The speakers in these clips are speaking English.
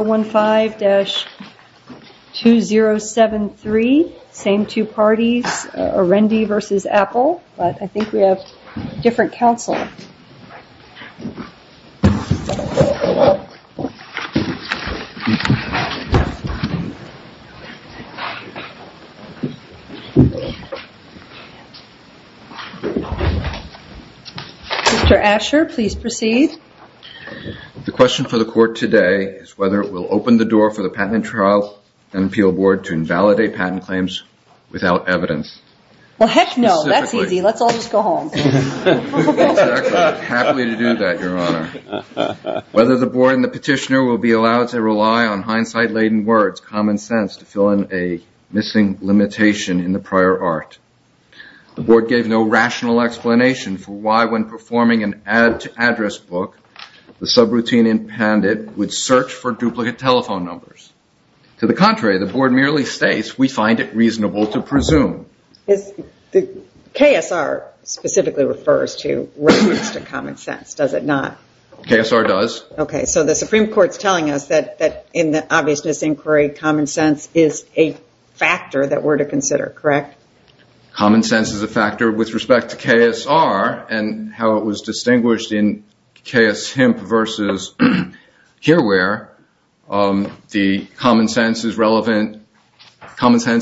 015-2073, same two parties, Arendi v. Apple, but I think we have a different counsel. Mr. Asher, please proceed. The question for the court today is whether it will open the door for the Patent and Trial and Appeal Board to invalidate patent claims without evidence. Well, heck no. That's easy. Let's all just go home. Exactly. I'm happy to do that, Your Honor. Whether the board and the petitioner will be allowed to rely on hindsight-laden words, common sense, to fill in a missing limitation in the prior art. The board gave no rational explanation for why, when performing an add-to-address book, the subroutine impounded would search for duplicate telephone numbers. To the contrary, the board merely states we find it reasonable to presume. KSR specifically refers to reference to common sense, does it not? KSR does. Okay, so the Supreme Court's telling us that in the obviousness inquiry, common sense is a factor that we're to consider, correct? Common sense is a factor with respect to KSR and how it was distinguished in KS Hemp versus Herewhere. The common sense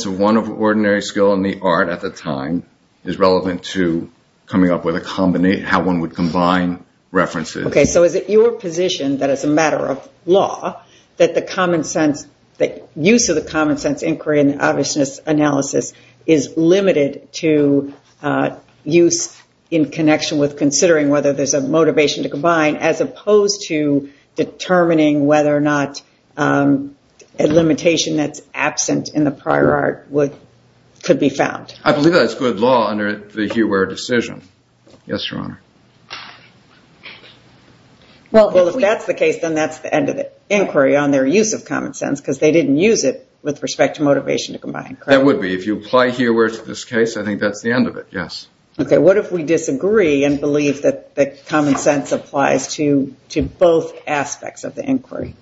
of one ordinary skill in the art at the time is relevant to coming up with how one would combine references. Okay, so is it your position that as a matter of law, that the use of the common sense inquiry in the obviousness analysis is limited to use in connection with considering whether there's a motivation to combine, as opposed to determining whether or not a limitation that's absent in the prior art could be found? I believe that's good law under the Herewhere decision. Yes, Your Honor. Well, if that's the case, then that's the end of the inquiry on their use of common sense, because they didn't use it with respect to motivation to combine. That would be. If you apply Herewhere to this case, I think that's the end of it, yes. Okay, what if we disagree and believe that the common sense applies to both aspects of the inquiry?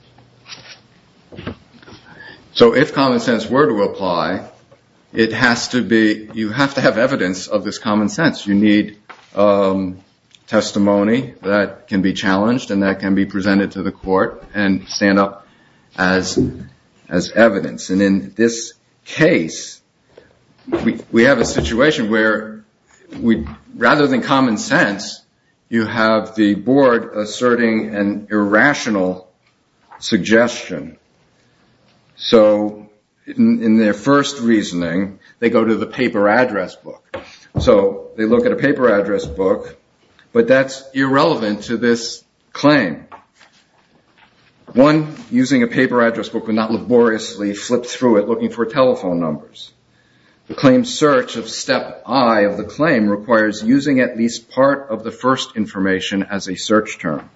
So if common sense were to apply, you have to have evidence of this common sense. You need testimony that can be challenged and that can be presented to the court and stand up as evidence. And in this case, we have a situation where rather than common sense, you have the board asserting an irrational suggestion. So in their first reasoning, they go to the paper address book. So they look at a paper address book, but that's irrelevant to this claim. One using a paper address book would not laboriously flip through it looking for telephone numbers. The claim search of step I of the claim requires using at least part of the first information as a search term.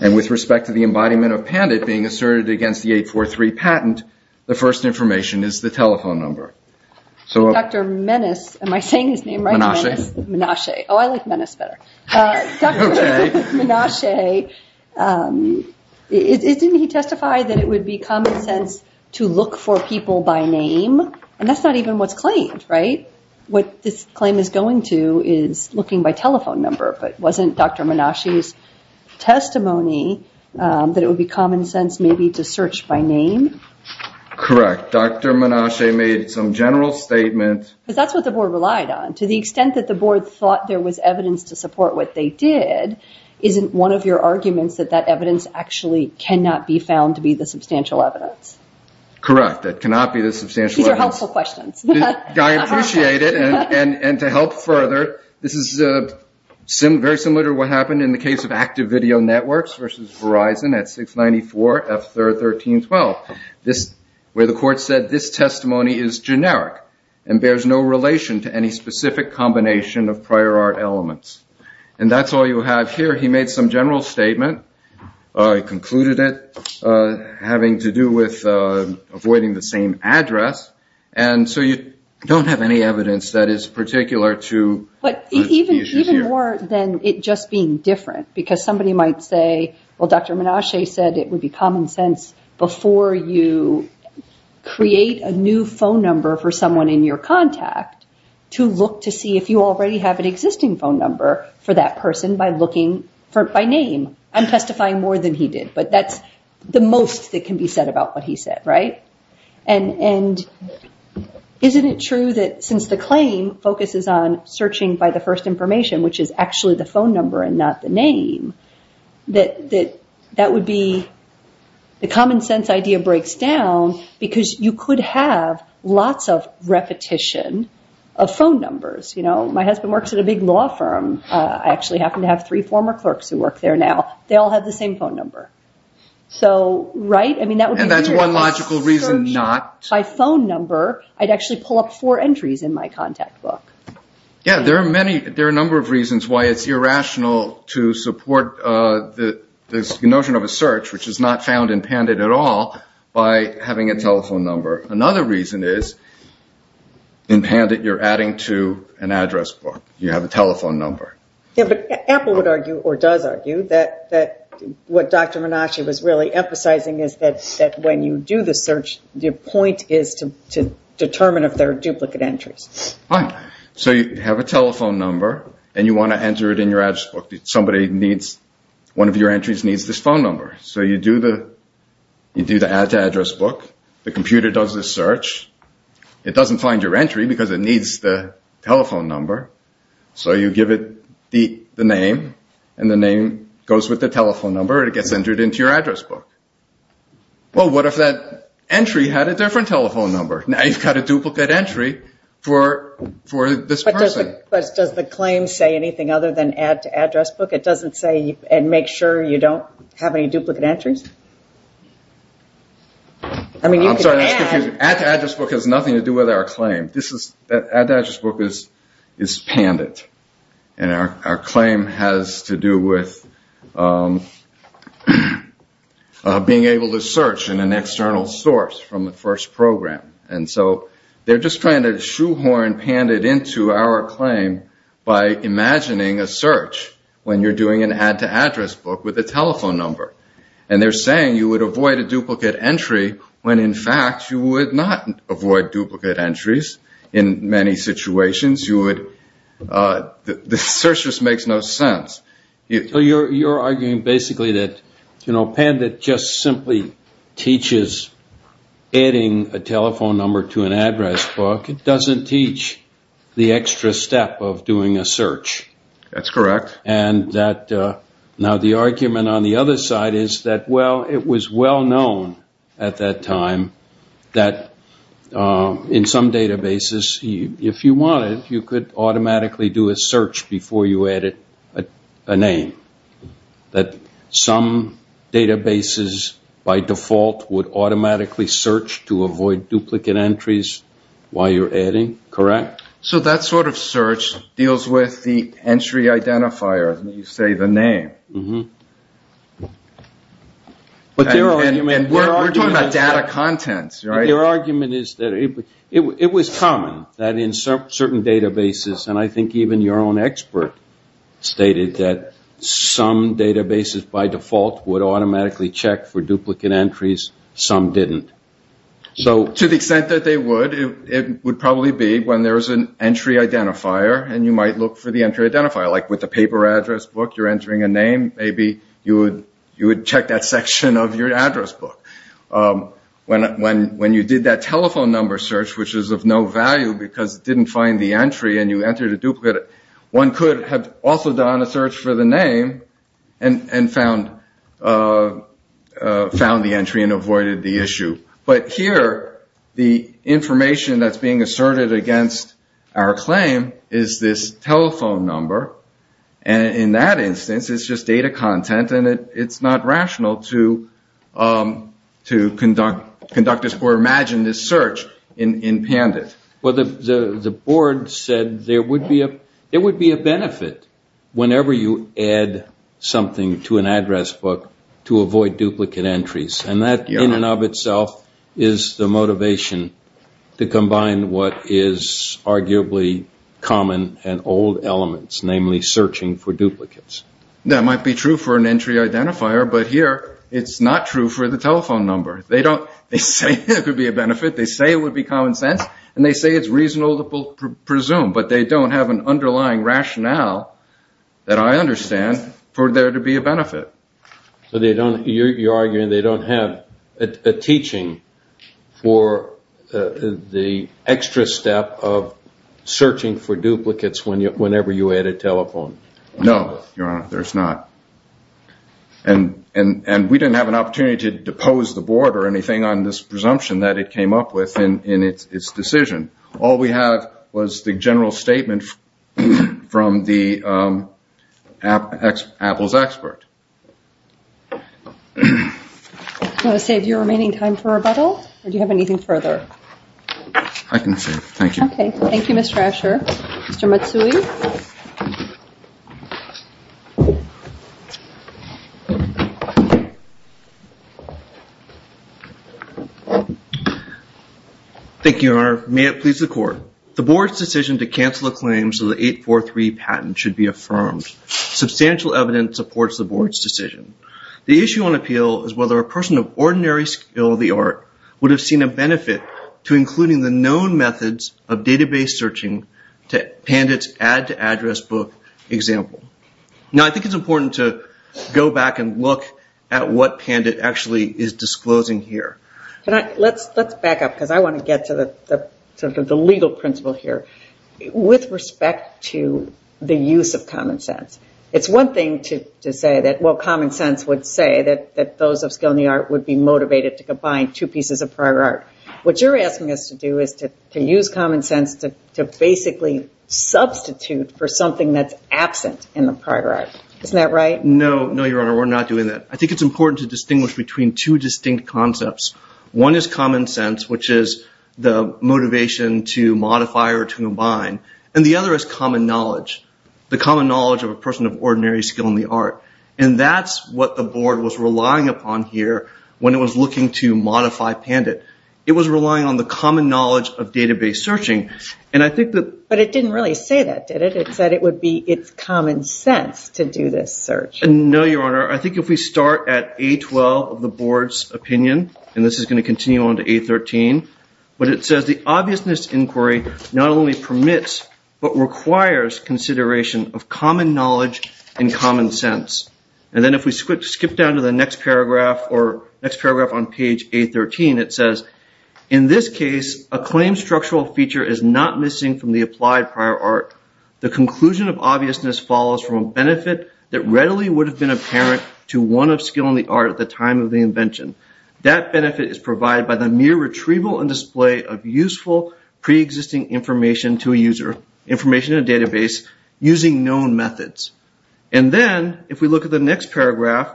And with respect to the embodiment of PANDIT being asserted against the 843 patent, the first information is the telephone number. Dr. Menace, am I saying his name right? Menache. Menache. Oh, I like Menace better. Dr. Menache, didn't he testify that it would be common sense to look for people by name? And that's not even what's claimed, right? What this claim is going to is looking by telephone number. But wasn't Dr. Menache's testimony that it would be common sense maybe to search by name? Correct. Dr. Menache made some general statement. Because that's what the board relied on. To the extent that the board thought there was evidence to support what they did, isn't one of your arguments that that evidence actually cannot be found to be the substantial evidence? Correct. That cannot be the substantial evidence. These are helpful questions. I appreciate it. And to help further, this is very similar to what happened in the case of active video networks versus Verizon at 694-F1312. Where the court said this testimony is generic and bears no relation to any specific combination of prior art elements. And that's all you have here. He made some general statement. He concluded it having to do with avoiding the same address. And so you don't have any evidence that is particular to the issue here. Even more than it just being different. Because somebody might say, well, Dr. Menache said it would be common sense before you create a new phone number for someone in your contact to look to see if you already have an existing phone number for that person by looking by name. I'm testifying more than he did. But that's the most that can be said about what he said. Right? And isn't it true that since the claim focuses on searching by the first information, which is actually the phone number and not the name, that that would be the common sense idea breaks down because you could have lots of repetition of phone numbers. My husband works at a big law firm. I actually happen to have three former clerks who work there now. They all have the same phone number. So, right? And that's one logical reason not. By phone number, I'd actually pull up four entries in my contact book. Yeah. There are a number of reasons why it's irrational to support this notion of a search, which is not found in PANDIT at all, by having a telephone number. Another reason is in PANDIT you're adding to an address book. You have a telephone number. Yeah, but Apple would argue or does argue that what Dr. Menasche was really emphasizing is that when you do the search, the point is to determine if there are duplicate entries. Right. So, you have a telephone number and you want to enter it in your address book. Somebody needs one of your entries needs this phone number. So, you do the add to address book. The computer does the search. It doesn't find your entry because it needs the telephone number. So, you give it the name and the name goes with the telephone number. It gets entered into your address book. Well, what if that entry had a different telephone number? Now, you've got a duplicate entry for this person. But does the claim say anything other than add to address book? It doesn't say and make sure you don't have any duplicate entries? I'm sorry. Add to address book has nothing to do with our claim. Add to address book is pandit. And our claim has to do with being able to search in an external source from the first program. And so, they're just trying to shoehorn pandit into our claim by imagining a search when you're doing an add to address book with a telephone number. And they're saying you would avoid a duplicate entry when, in fact, you would not avoid duplicate entries in many situations. The search just makes no sense. So, you're arguing basically that pandit just simply teaches adding a telephone number to an address book. It doesn't teach the extra step of doing a search. That's correct. Now, the argument on the other side is that, well, it was well known at that time that in some databases, if you wanted, you could automatically do a search before you added a name. That some databases, by default, would automatically search to avoid duplicate entries while you're adding. Correct? So, that sort of search deals with the entry identifier, when you say the name. We're talking about data contents, right? Your argument is that it was common that in certain databases, and I think even your own expert stated that some databases, by default, would automatically check for duplicate entries. Some didn't. To the extent that they would, it would probably be when there's an entry identifier, and you might look for the entry identifier. Like with a paper address book, you're entering a name. Maybe you would check that section of your address book. When you did that telephone number search, which is of no value because it didn't find the entry and you entered a duplicate, one could have also done a search for the name and found the entry and avoided the issue. But here, the information that's being asserted against our claim is this telephone number, and in that instance, it's just data content, and it's not rational to conduct or imagine this search in Pandit. Well, the board said there would be a benefit whenever you add something to an address book to avoid duplicate entries, and that in and of itself is the motivation to combine what is arguably common and old elements, namely searching for duplicates. That might be true for an entry identifier, but here, it's not true for the telephone number. They say it could be a benefit. They say it would be common sense, and they say it's reasonable to presume, but they don't have an underlying rationale that I understand for there to be a benefit. So you're arguing they don't have a teaching for the extra step of searching for duplicates whenever you add a telephone number? No, Your Honor, there's not. And we didn't have an opportunity to depose the board or anything on this presumption that it came up with in its decision. All we have was the general statement from the Apple's expert. Do you want to save your remaining time for rebuttal, or do you have anything further? I can save. Thank you. Okay. Thank you, Mr. Asher. Mr. Matsui. Thank you, Your Honor. May it please the Court. The board's decision to cancel a claim so the 843 patent should be affirmed. Substantial evidence supports the board's decision. The issue on appeal is whether a person of ordinary skill of the art would have seen a benefit to including the known methods of database searching to Pandit's add-to-address book example. Now, I think it's important to go back and look at what Pandit actually is disclosing here. Let's back up, because I want to get to the legal principle here with respect to the use of common sense. It's one thing to say that, well, common sense would say that those of skill in the art would be motivated to combine two pieces of prior art. What you're asking us to do is to use common sense to basically substitute for something that's absent in the prior art. Isn't that right? No. No, Your Honor. We're not doing that. I think it's important to distinguish between two distinct concepts. One is common sense, which is the motivation to modify or to combine, and the other is common knowledge. The common knowledge of a person of ordinary skill in the art. And that's what the board was relying upon here when it was looking to modify Pandit. It was relying on the common knowledge of database searching. But it didn't really say that, did it? It said it would be its common sense to do this search. No, Your Honor. I think if we start at A12 of the board's opinion, and this is going to continue on to A13, but it says the obviousness inquiry not only permits but requires consideration of common knowledge and common sense. And then if we skip down to the next paragraph or next paragraph on page A13, it says, in this case, a claim structural feature is not missing from the applied prior art. The conclusion of obviousness follows from a benefit that readily would have been apparent to one of skill in the art at the time of the invention. That benefit is provided by the mere retrieval and display of useful preexisting information to a user, information in a database, using known methods. And then if we look at the next paragraph,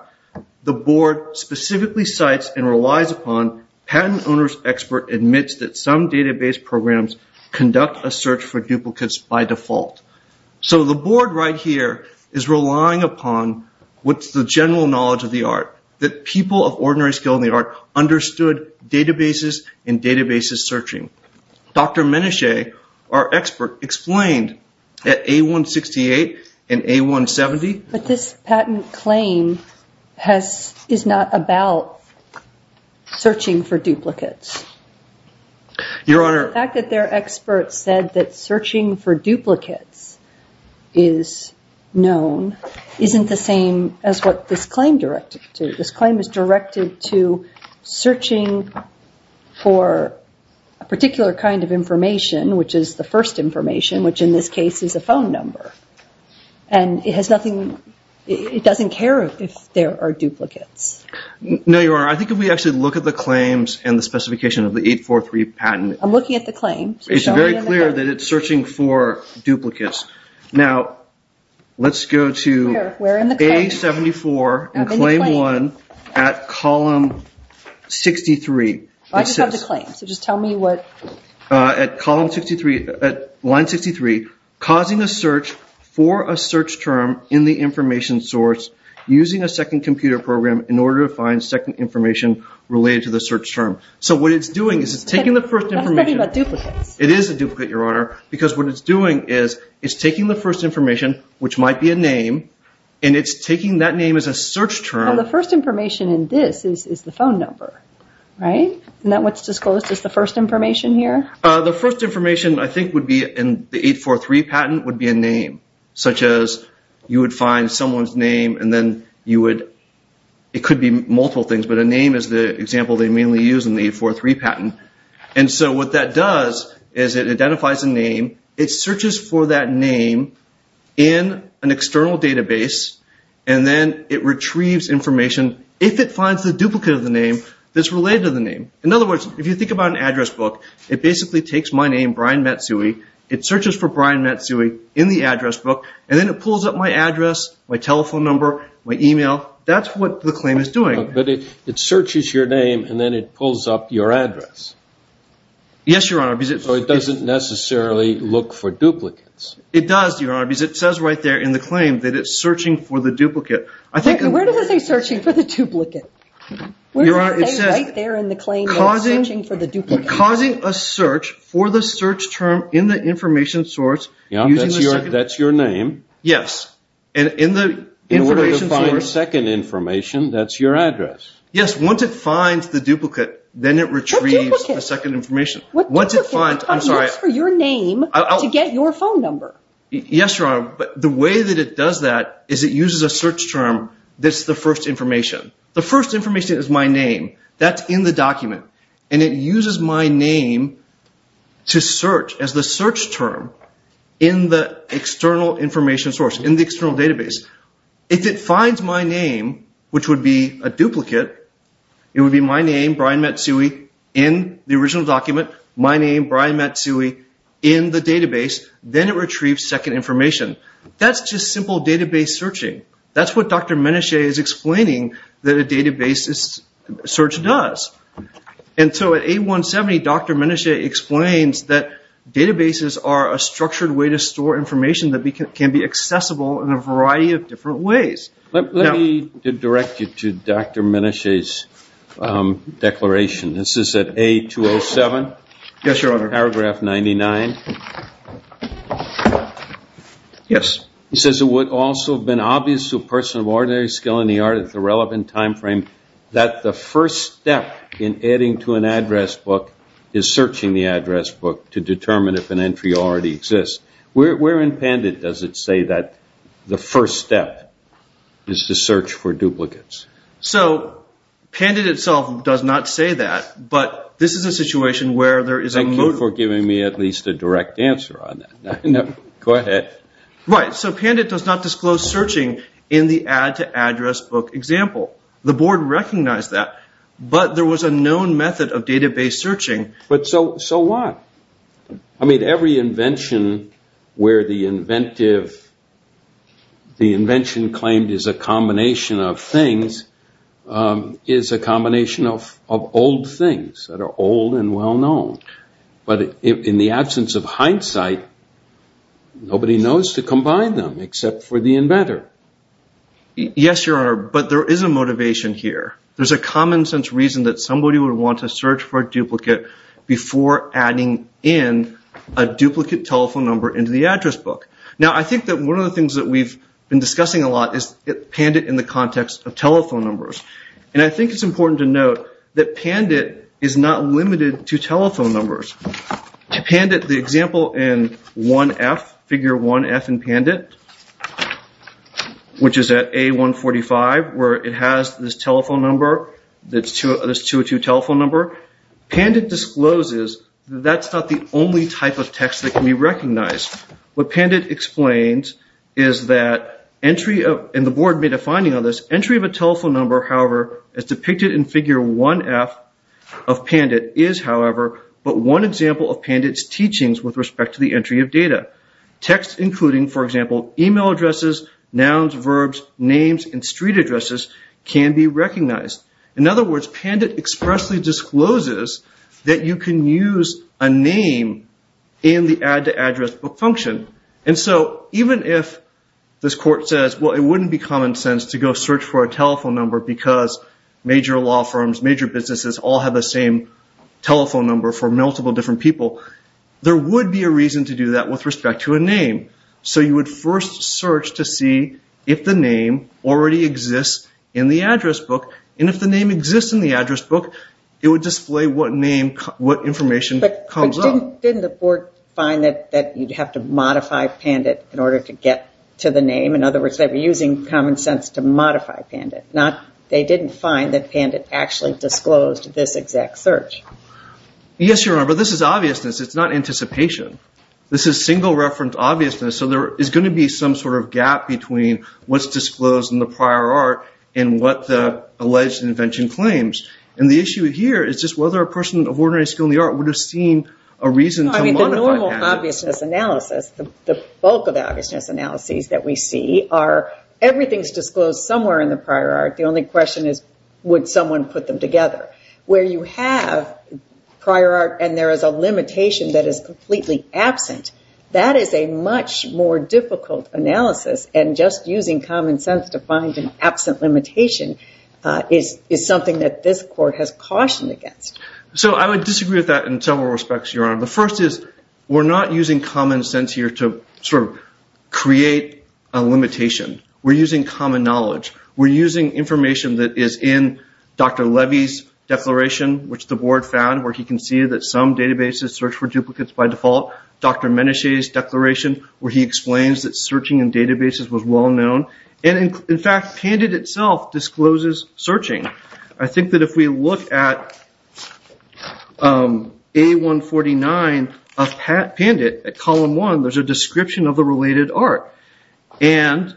the board specifically cites and relies upon patent owner's expert admits that some database programs conduct a search for duplicates by default. So the board right here is relying upon what's the general knowledge of the art, that people of ordinary skill in the art understood databases and databases searching. Dr. Menesha, our expert, explained that A168 and A170. But this patent claim is not about searching for duplicates. Your Honor. The fact that their expert said that searching for duplicates is known isn't the same as what this claim is directed to. This claim is directed to searching for a particular kind of information, which is the first information, which in this case is a phone number. And it doesn't care if there are duplicates. No, Your Honor. I think if we actually look at the claims and the specification of the 843 patent. I'm looking at the claim. It's very clear that it's searching for duplicates. Now, let's go to A74 and claim one at column 63. I just have the claim, so just tell me what. At line 63, causing a search for a search term in the information source using a second computer program in order to find second information related to the search term. So what it's doing is it's taking the first information. It's talking about duplicates. It is a duplicate, Your Honor. Because what it's doing is it's taking the first information, which might be a name, and it's taking that name as a search term. The first information in this is the phone number, right? Isn't that what's disclosed as the first information here? The first information, I think, would be in the 843 patent would be a name. Such as you would find someone's name, and then you would – it could be multiple things, but a name is the example they mainly use in the 843 patent. And so what that does is it identifies a name. It searches for that name in an external database, and then it retrieves information if it finds the duplicate of the name that's related to the name. In other words, if you think about an address book, it basically takes my name, Brian Matsui. It searches for Brian Matsui in the address book, and then it pulls up my address, my telephone number, my email. That's what the claim is doing. But it searches your name, and then it pulls up your address. Yes, Your Honor. So it doesn't necessarily look for duplicates. It does, Your Honor, because it says right there in the claim that it's searching for the duplicate. Where does it say searching for the duplicate? Where does it say right there in the claim that it's searching for the duplicate? It's causing a search for the search term in the information source. That's your name. Yes. In order to find second information, that's your address. Yes. Once it finds the duplicate, then it retrieves the second information. What duplicate? Once it finds – I'm sorry. What duplicate looks for your name to get your phone number? Yes, Your Honor. But the way that it does that is it uses a search term that's the first information. The first information is my name. That's in the document. And it uses my name to search as the search term in the external information source, in the external database. If it finds my name, which would be a duplicate, it would be my name, Brian Matsui, in the original document, my name, Brian Matsui, in the database. Then it retrieves second information. That's just simple database searching. That's what Dr. Menasche is explaining that a database search does. And so at A170, Dr. Menasche explains that databases are a structured way to store information that can be accessible in a variety of different ways. Let me direct you to Dr. Menasche's declaration. This is at A207. Yes, Your Honor. Paragraph 99. Yes. He says it would also have been obvious to a person of ordinary skill in the art at the relevant time frame that the first step in adding to an address book is searching the address book to determine if an entry already exists. Where in PANDIT does it say that the first step is to search for duplicates? So PANDIT itself does not say that, but this is a situation where there is a motive. Thank you for giving me at least a direct answer on that. Go ahead. Right. So PANDIT does not disclose searching in the add to address book example. The board recognized that, but there was a known method of database searching. But so what? I mean, every invention where the inventive, the invention claimed is a combination of things, is a combination of old things that are old and well-known. But in the absence of hindsight, nobody knows to combine them except for the inventor. Yes, Your Honor, but there is a motivation here. There's a common sense reason that somebody would want to search for a duplicate before adding in a duplicate telephone number into the address book. Now, I think that one of the things that we've been discussing a lot is PANDIT in the context of telephone numbers. And I think it's important to note that PANDIT is not limited to telephone numbers. To PANDIT, the example in 1F, figure 1F in PANDIT, which is at A145, where it has this telephone number, this 202 telephone number, PANDIT discloses that that's not the only type of text that can be recognized. What PANDIT explains is that entry of, and the board made a finding on this, entry of a telephone number, however, as depicted in figure 1F of PANDIT, is, however, but one example of PANDIT's teachings with respect to the entry of data. Texts including, for example, email addresses, nouns, verbs, names, and street addresses can be recognized. In other words, PANDIT expressly discloses that you can use a name in the add to address book function. And so even if this court says, well, it wouldn't be common sense to go search for a telephone number because major law firms, major businesses all have the same telephone number for multiple different people, there would be a reason to do that with respect to a name. So you would first search to see if the name already exists in the address book. And if the name exists in the address book, it would display what name, what information comes up. Didn't the board find that you'd have to modify PANDIT in order to get to the name? In other words, they were using common sense to modify PANDIT. They didn't find that PANDIT actually disclosed this exact search. Yes, Your Honor, but this is obviousness. It's not anticipation. This is single reference obviousness. So there is going to be some sort of gap between what's disclosed in the prior art and what the alleged invention claims. And the issue here is just whether a person of ordinary skill in the art would have seen a reason to modify PANDIT. I mean, the normal obviousness analysis, the bulk of the obviousness analyses that we see, are everything's disclosed somewhere in the prior art. The only question is would someone put them together. Where you have prior art and there is a limitation that is completely absent, that is a much more difficult analysis. And just using common sense to find an absent limitation is something that this court has cautioned against. So I would disagree with that in several respects, Your Honor. The first is we're not using common sense here to sort of create a limitation. We're using common knowledge. We're using information that is in Dr. Levy's declaration, which the board found, where he can see that some databases search for duplicates by default. Dr. Menechet's declaration, where he explains that searching in databases was well known. And in fact, PANDIT itself discloses searching. I think that if we look at A149 of PANDIT, at column one, there's a description of the related art. And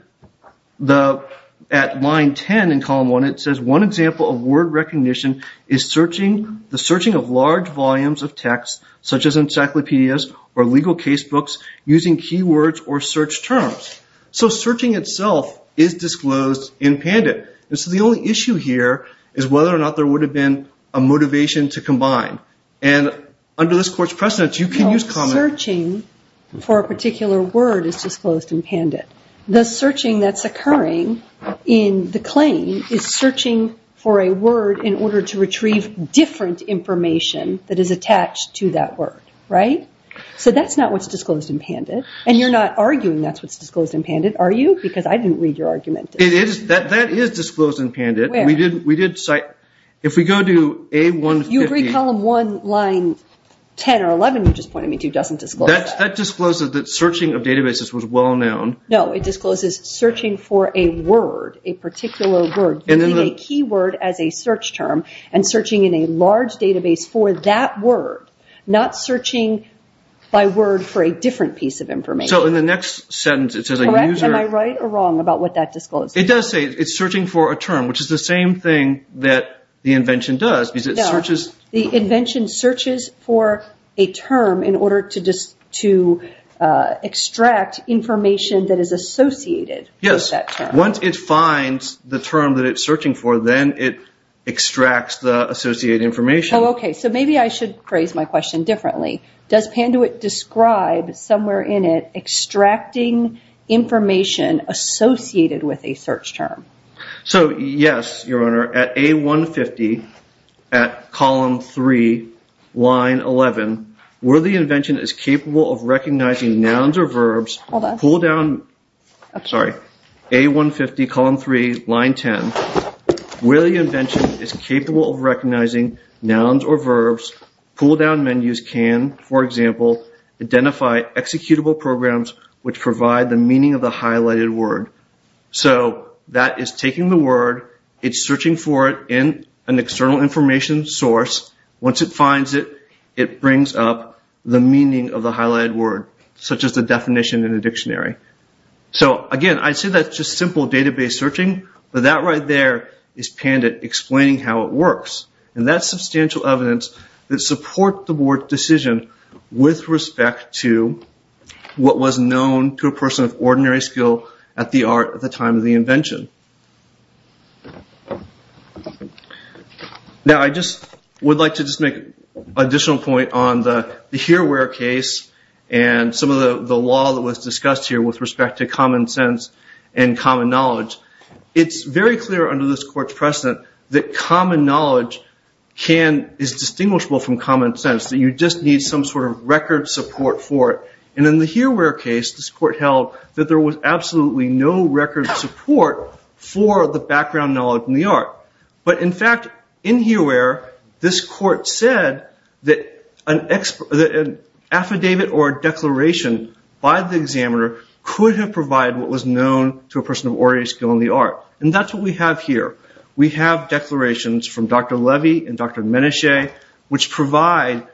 at line 10 in column one, it says, one example of word recognition is the searching of large volumes of text, such as encyclopedias or legal casebooks, using keywords or search terms. So searching itself is disclosed in PANDIT. And so the only issue here is whether or not there would have been a motivation to combine. And under this court's precedence, you can use common sense. No, searching for a particular word is disclosed in PANDIT. The searching that's occurring in the claim is searching for a word in order to retrieve different information that is attached to that word. So that's not what's disclosed in PANDIT. And you're not arguing that's what's disclosed in PANDIT, are you? Because I didn't read your argument. That is disclosed in PANDIT. If we go to A150. You agree column one, line 10 or 11, you just pointed me to, doesn't disclose that. That discloses that searching of databases was well known. No, it discloses searching for a word, a particular word, using a keyword as a search term and searching in a large database for that word, not searching by word for a different piece of information. So in the next sentence it says a user. Am I right or wrong about what that discloses? It does say it's searching for a term, which is the same thing that the invention does. The invention searches for a term in order to extract information that is associated with that term. Once it finds the term that it's searching for, then it extracts the associated information. So maybe I should phrase my question differently. Does PANDUIT describe somewhere in it extracting information associated with a search term? Yes, Your Honor. At A150 at column three, line 11, where the invention is capable of recognizing nouns or verbs, pull down, sorry, A150 column three, line 10, where the invention is capable of recognizing nouns or verbs, pull down menus can, for example, identify executable programs which provide the meaning of the highlighted word. So that is taking the word, it's searching for it in an external information source. Once it finds it, it brings up the meaning of the highlighted word, such as the definition in the dictionary. So, again, I'd say that's just simple database searching, but that right there is PANDUIT explaining how it works. And that's substantial evidence that supports the board's decision with respect to what was known to a person of ordinary skill at the art at the time of the invention. Now, I just would like to just make an additional point on the here where case and some of the law that was discussed here with respect to common sense and common knowledge. It's very clear under this court's precedent that common knowledge is distinguishable from common sense, that you just need some sort of record support for it. And in the here where case, this court held that there was absolutely no record support for the background knowledge in the art. But, in fact, in here where this court said that an affidavit or a declaration by the examiner could have provided what was known to a person of ordinary skill in the art. And that's what we have here. We have declarations from Dr. Levy and Dr. Menashe, which provide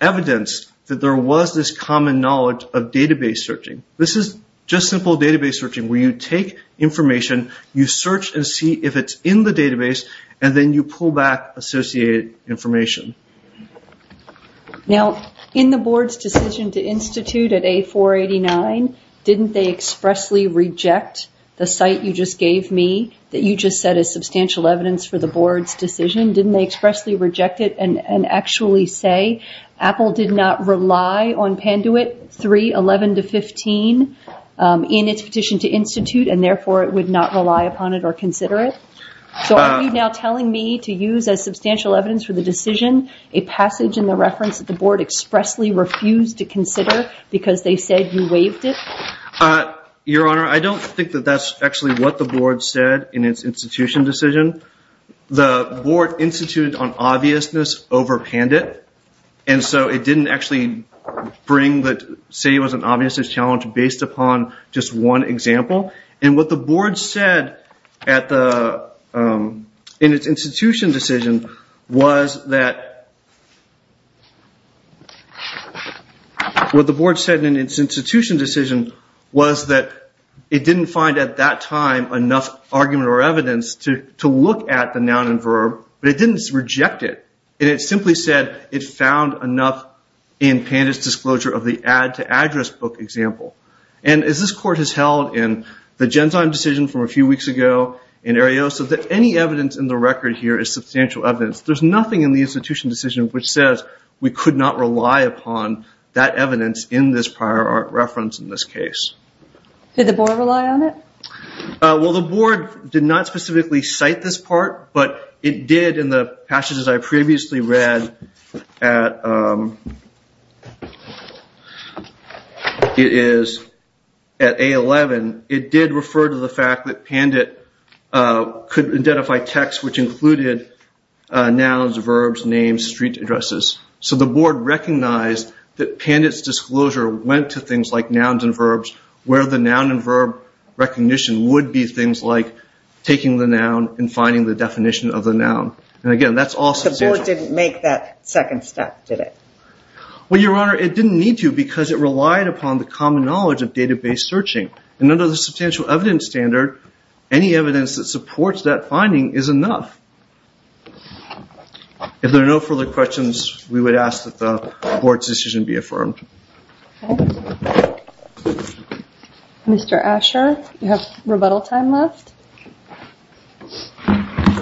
evidence that there was this common knowledge of database searching. This is just simple database searching where you take information, you search and see if it's in the database, and then you pull back associated information. Now, in the board's decision to institute at A489, didn't they expressly reject the site you just gave me that you just said is substantial evidence for the board's decision? Didn't they expressly reject it and actually say Apple did not rely on Panduit 311-15 in its petition to institute and therefore it would not rely upon it or consider it? So are you now telling me to use as substantial evidence for the decision a passage in the reference that the board expressly refused to consider because they said you waived it? Your Honor, I don't think that that's actually what the board said in its institution decision. The board instituted on obviousness over Panduit. And so it didn't actually say it was an obviousness challenge based upon just one example. And what the board said in its institution decision was that it didn't find at that time enough argument or evidence to look at the noun and verb, but it didn't reject it. It simply said it found enough in Panduit's disclosure of the add-to-address book example. And as this court has held in the Genzyme decision from a few weeks ago in Arioso, that any evidence in the record here is substantial evidence. There's nothing in the institution decision which says we could not rely upon that evidence in this prior reference in this case. Did the board rely on it? Well, the board did not specifically cite this part, but it did in the passages I previously read. At A11, it did refer to the fact that Panduit could identify text which included nouns, verbs, names, street addresses. So the board recognized that Panduit's disclosure went to things like nouns and verbs, where the noun and verb recognition would be things like taking the noun and finding the definition of the noun. And again, that's all substantial. The board didn't make that second step, did it? Well, Your Honor, it didn't need to because it relied upon the common knowledge of database searching. And under the substantial evidence standard, any evidence that supports that finding is enough. If there are no further questions, we would ask that the board's decision be affirmed. Mr. Asher, you have rebuttal time left. Thank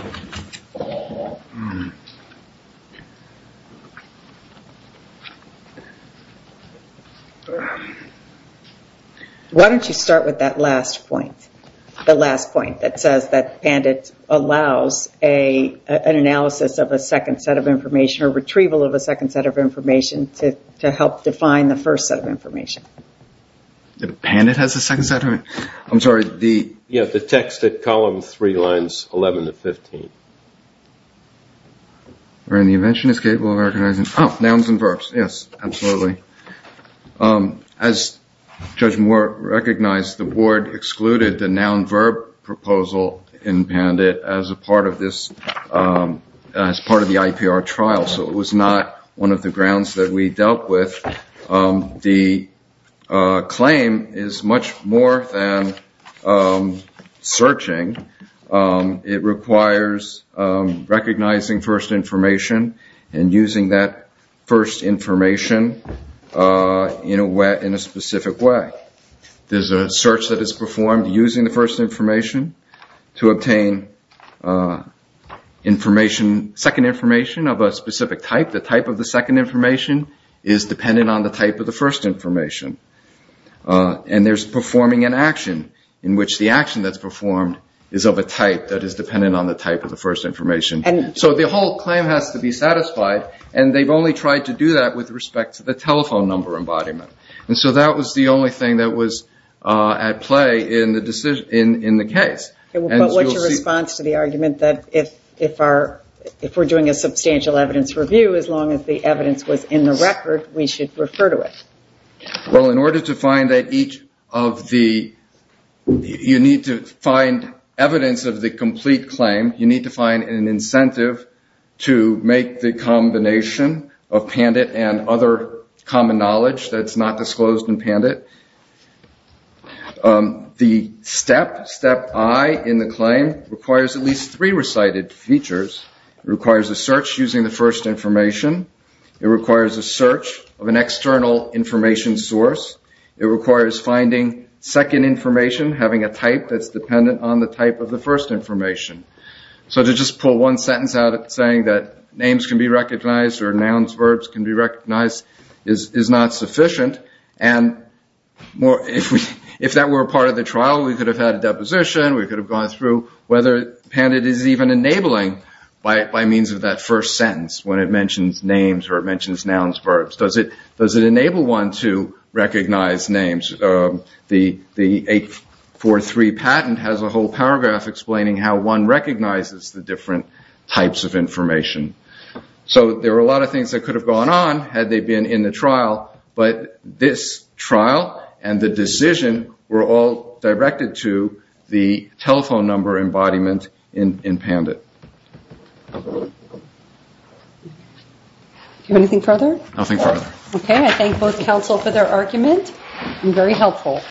you, Your Honor. Why don't you start with that last point? The last point that says that Panduit allows an analysis of a second set of information or retrieval of a second set of information to help define the first set of information. Panduit has a second set of information? I'm sorry. Yeah, the text at column three, lines 11 to 15. The invention is capable of recognizing nouns and verbs. Yes, absolutely. As Judge Moore recognized, the board excluded the noun-verb proposal in Panduit as part of the IPR trial. So it was not one of the grounds that we dealt with. The claim is much more than searching. It requires recognizing first information and using that first information in a specific way. There's a search that is performed using the first information to obtain second information of a specific type. The type of the second information is dependent on the type of the first information. And there's performing an action in which the action that's performed is of a type that is dependent on the type of the first information. So the whole claim has to be satisfied, and they've only tried to do that with respect to the telephone number embodiment. And so that was the only thing that was at play in the case. But what's your response to the argument that if we're doing a substantial evidence review, as long as the evidence was in the record, we should refer to it? Well, in order to find evidence of the complete claim, you need to find an incentive to make the combination of Panduit and other common knowledge that's not disclosed in Panduit. The step, step I, in the claim requires at least three recited features. It requires a search using the first information. It requires a search of an external information source. It requires finding second information, having a type that's dependent on the type of the first information. So to just pull one sentence out saying that names can be recognized or nouns, verbs can be recognized is not sufficient. And if that were a part of the trial, we could have had a deposition. We could have gone through whether Panduit is even enabling by means of that first sentence when it mentions names or it mentions nouns, verbs. Does it enable one to recognize names? The 843 patent has a whole paragraph explaining how one recognizes the different types of information. So there are a lot of things that could have gone on had they been in the trial, but this trial and the decision were all directed to the telephone number embodiment in Panduit. Do you have anything further? Nothing further. Okay, I thank both counsel for their argument. Very helpful.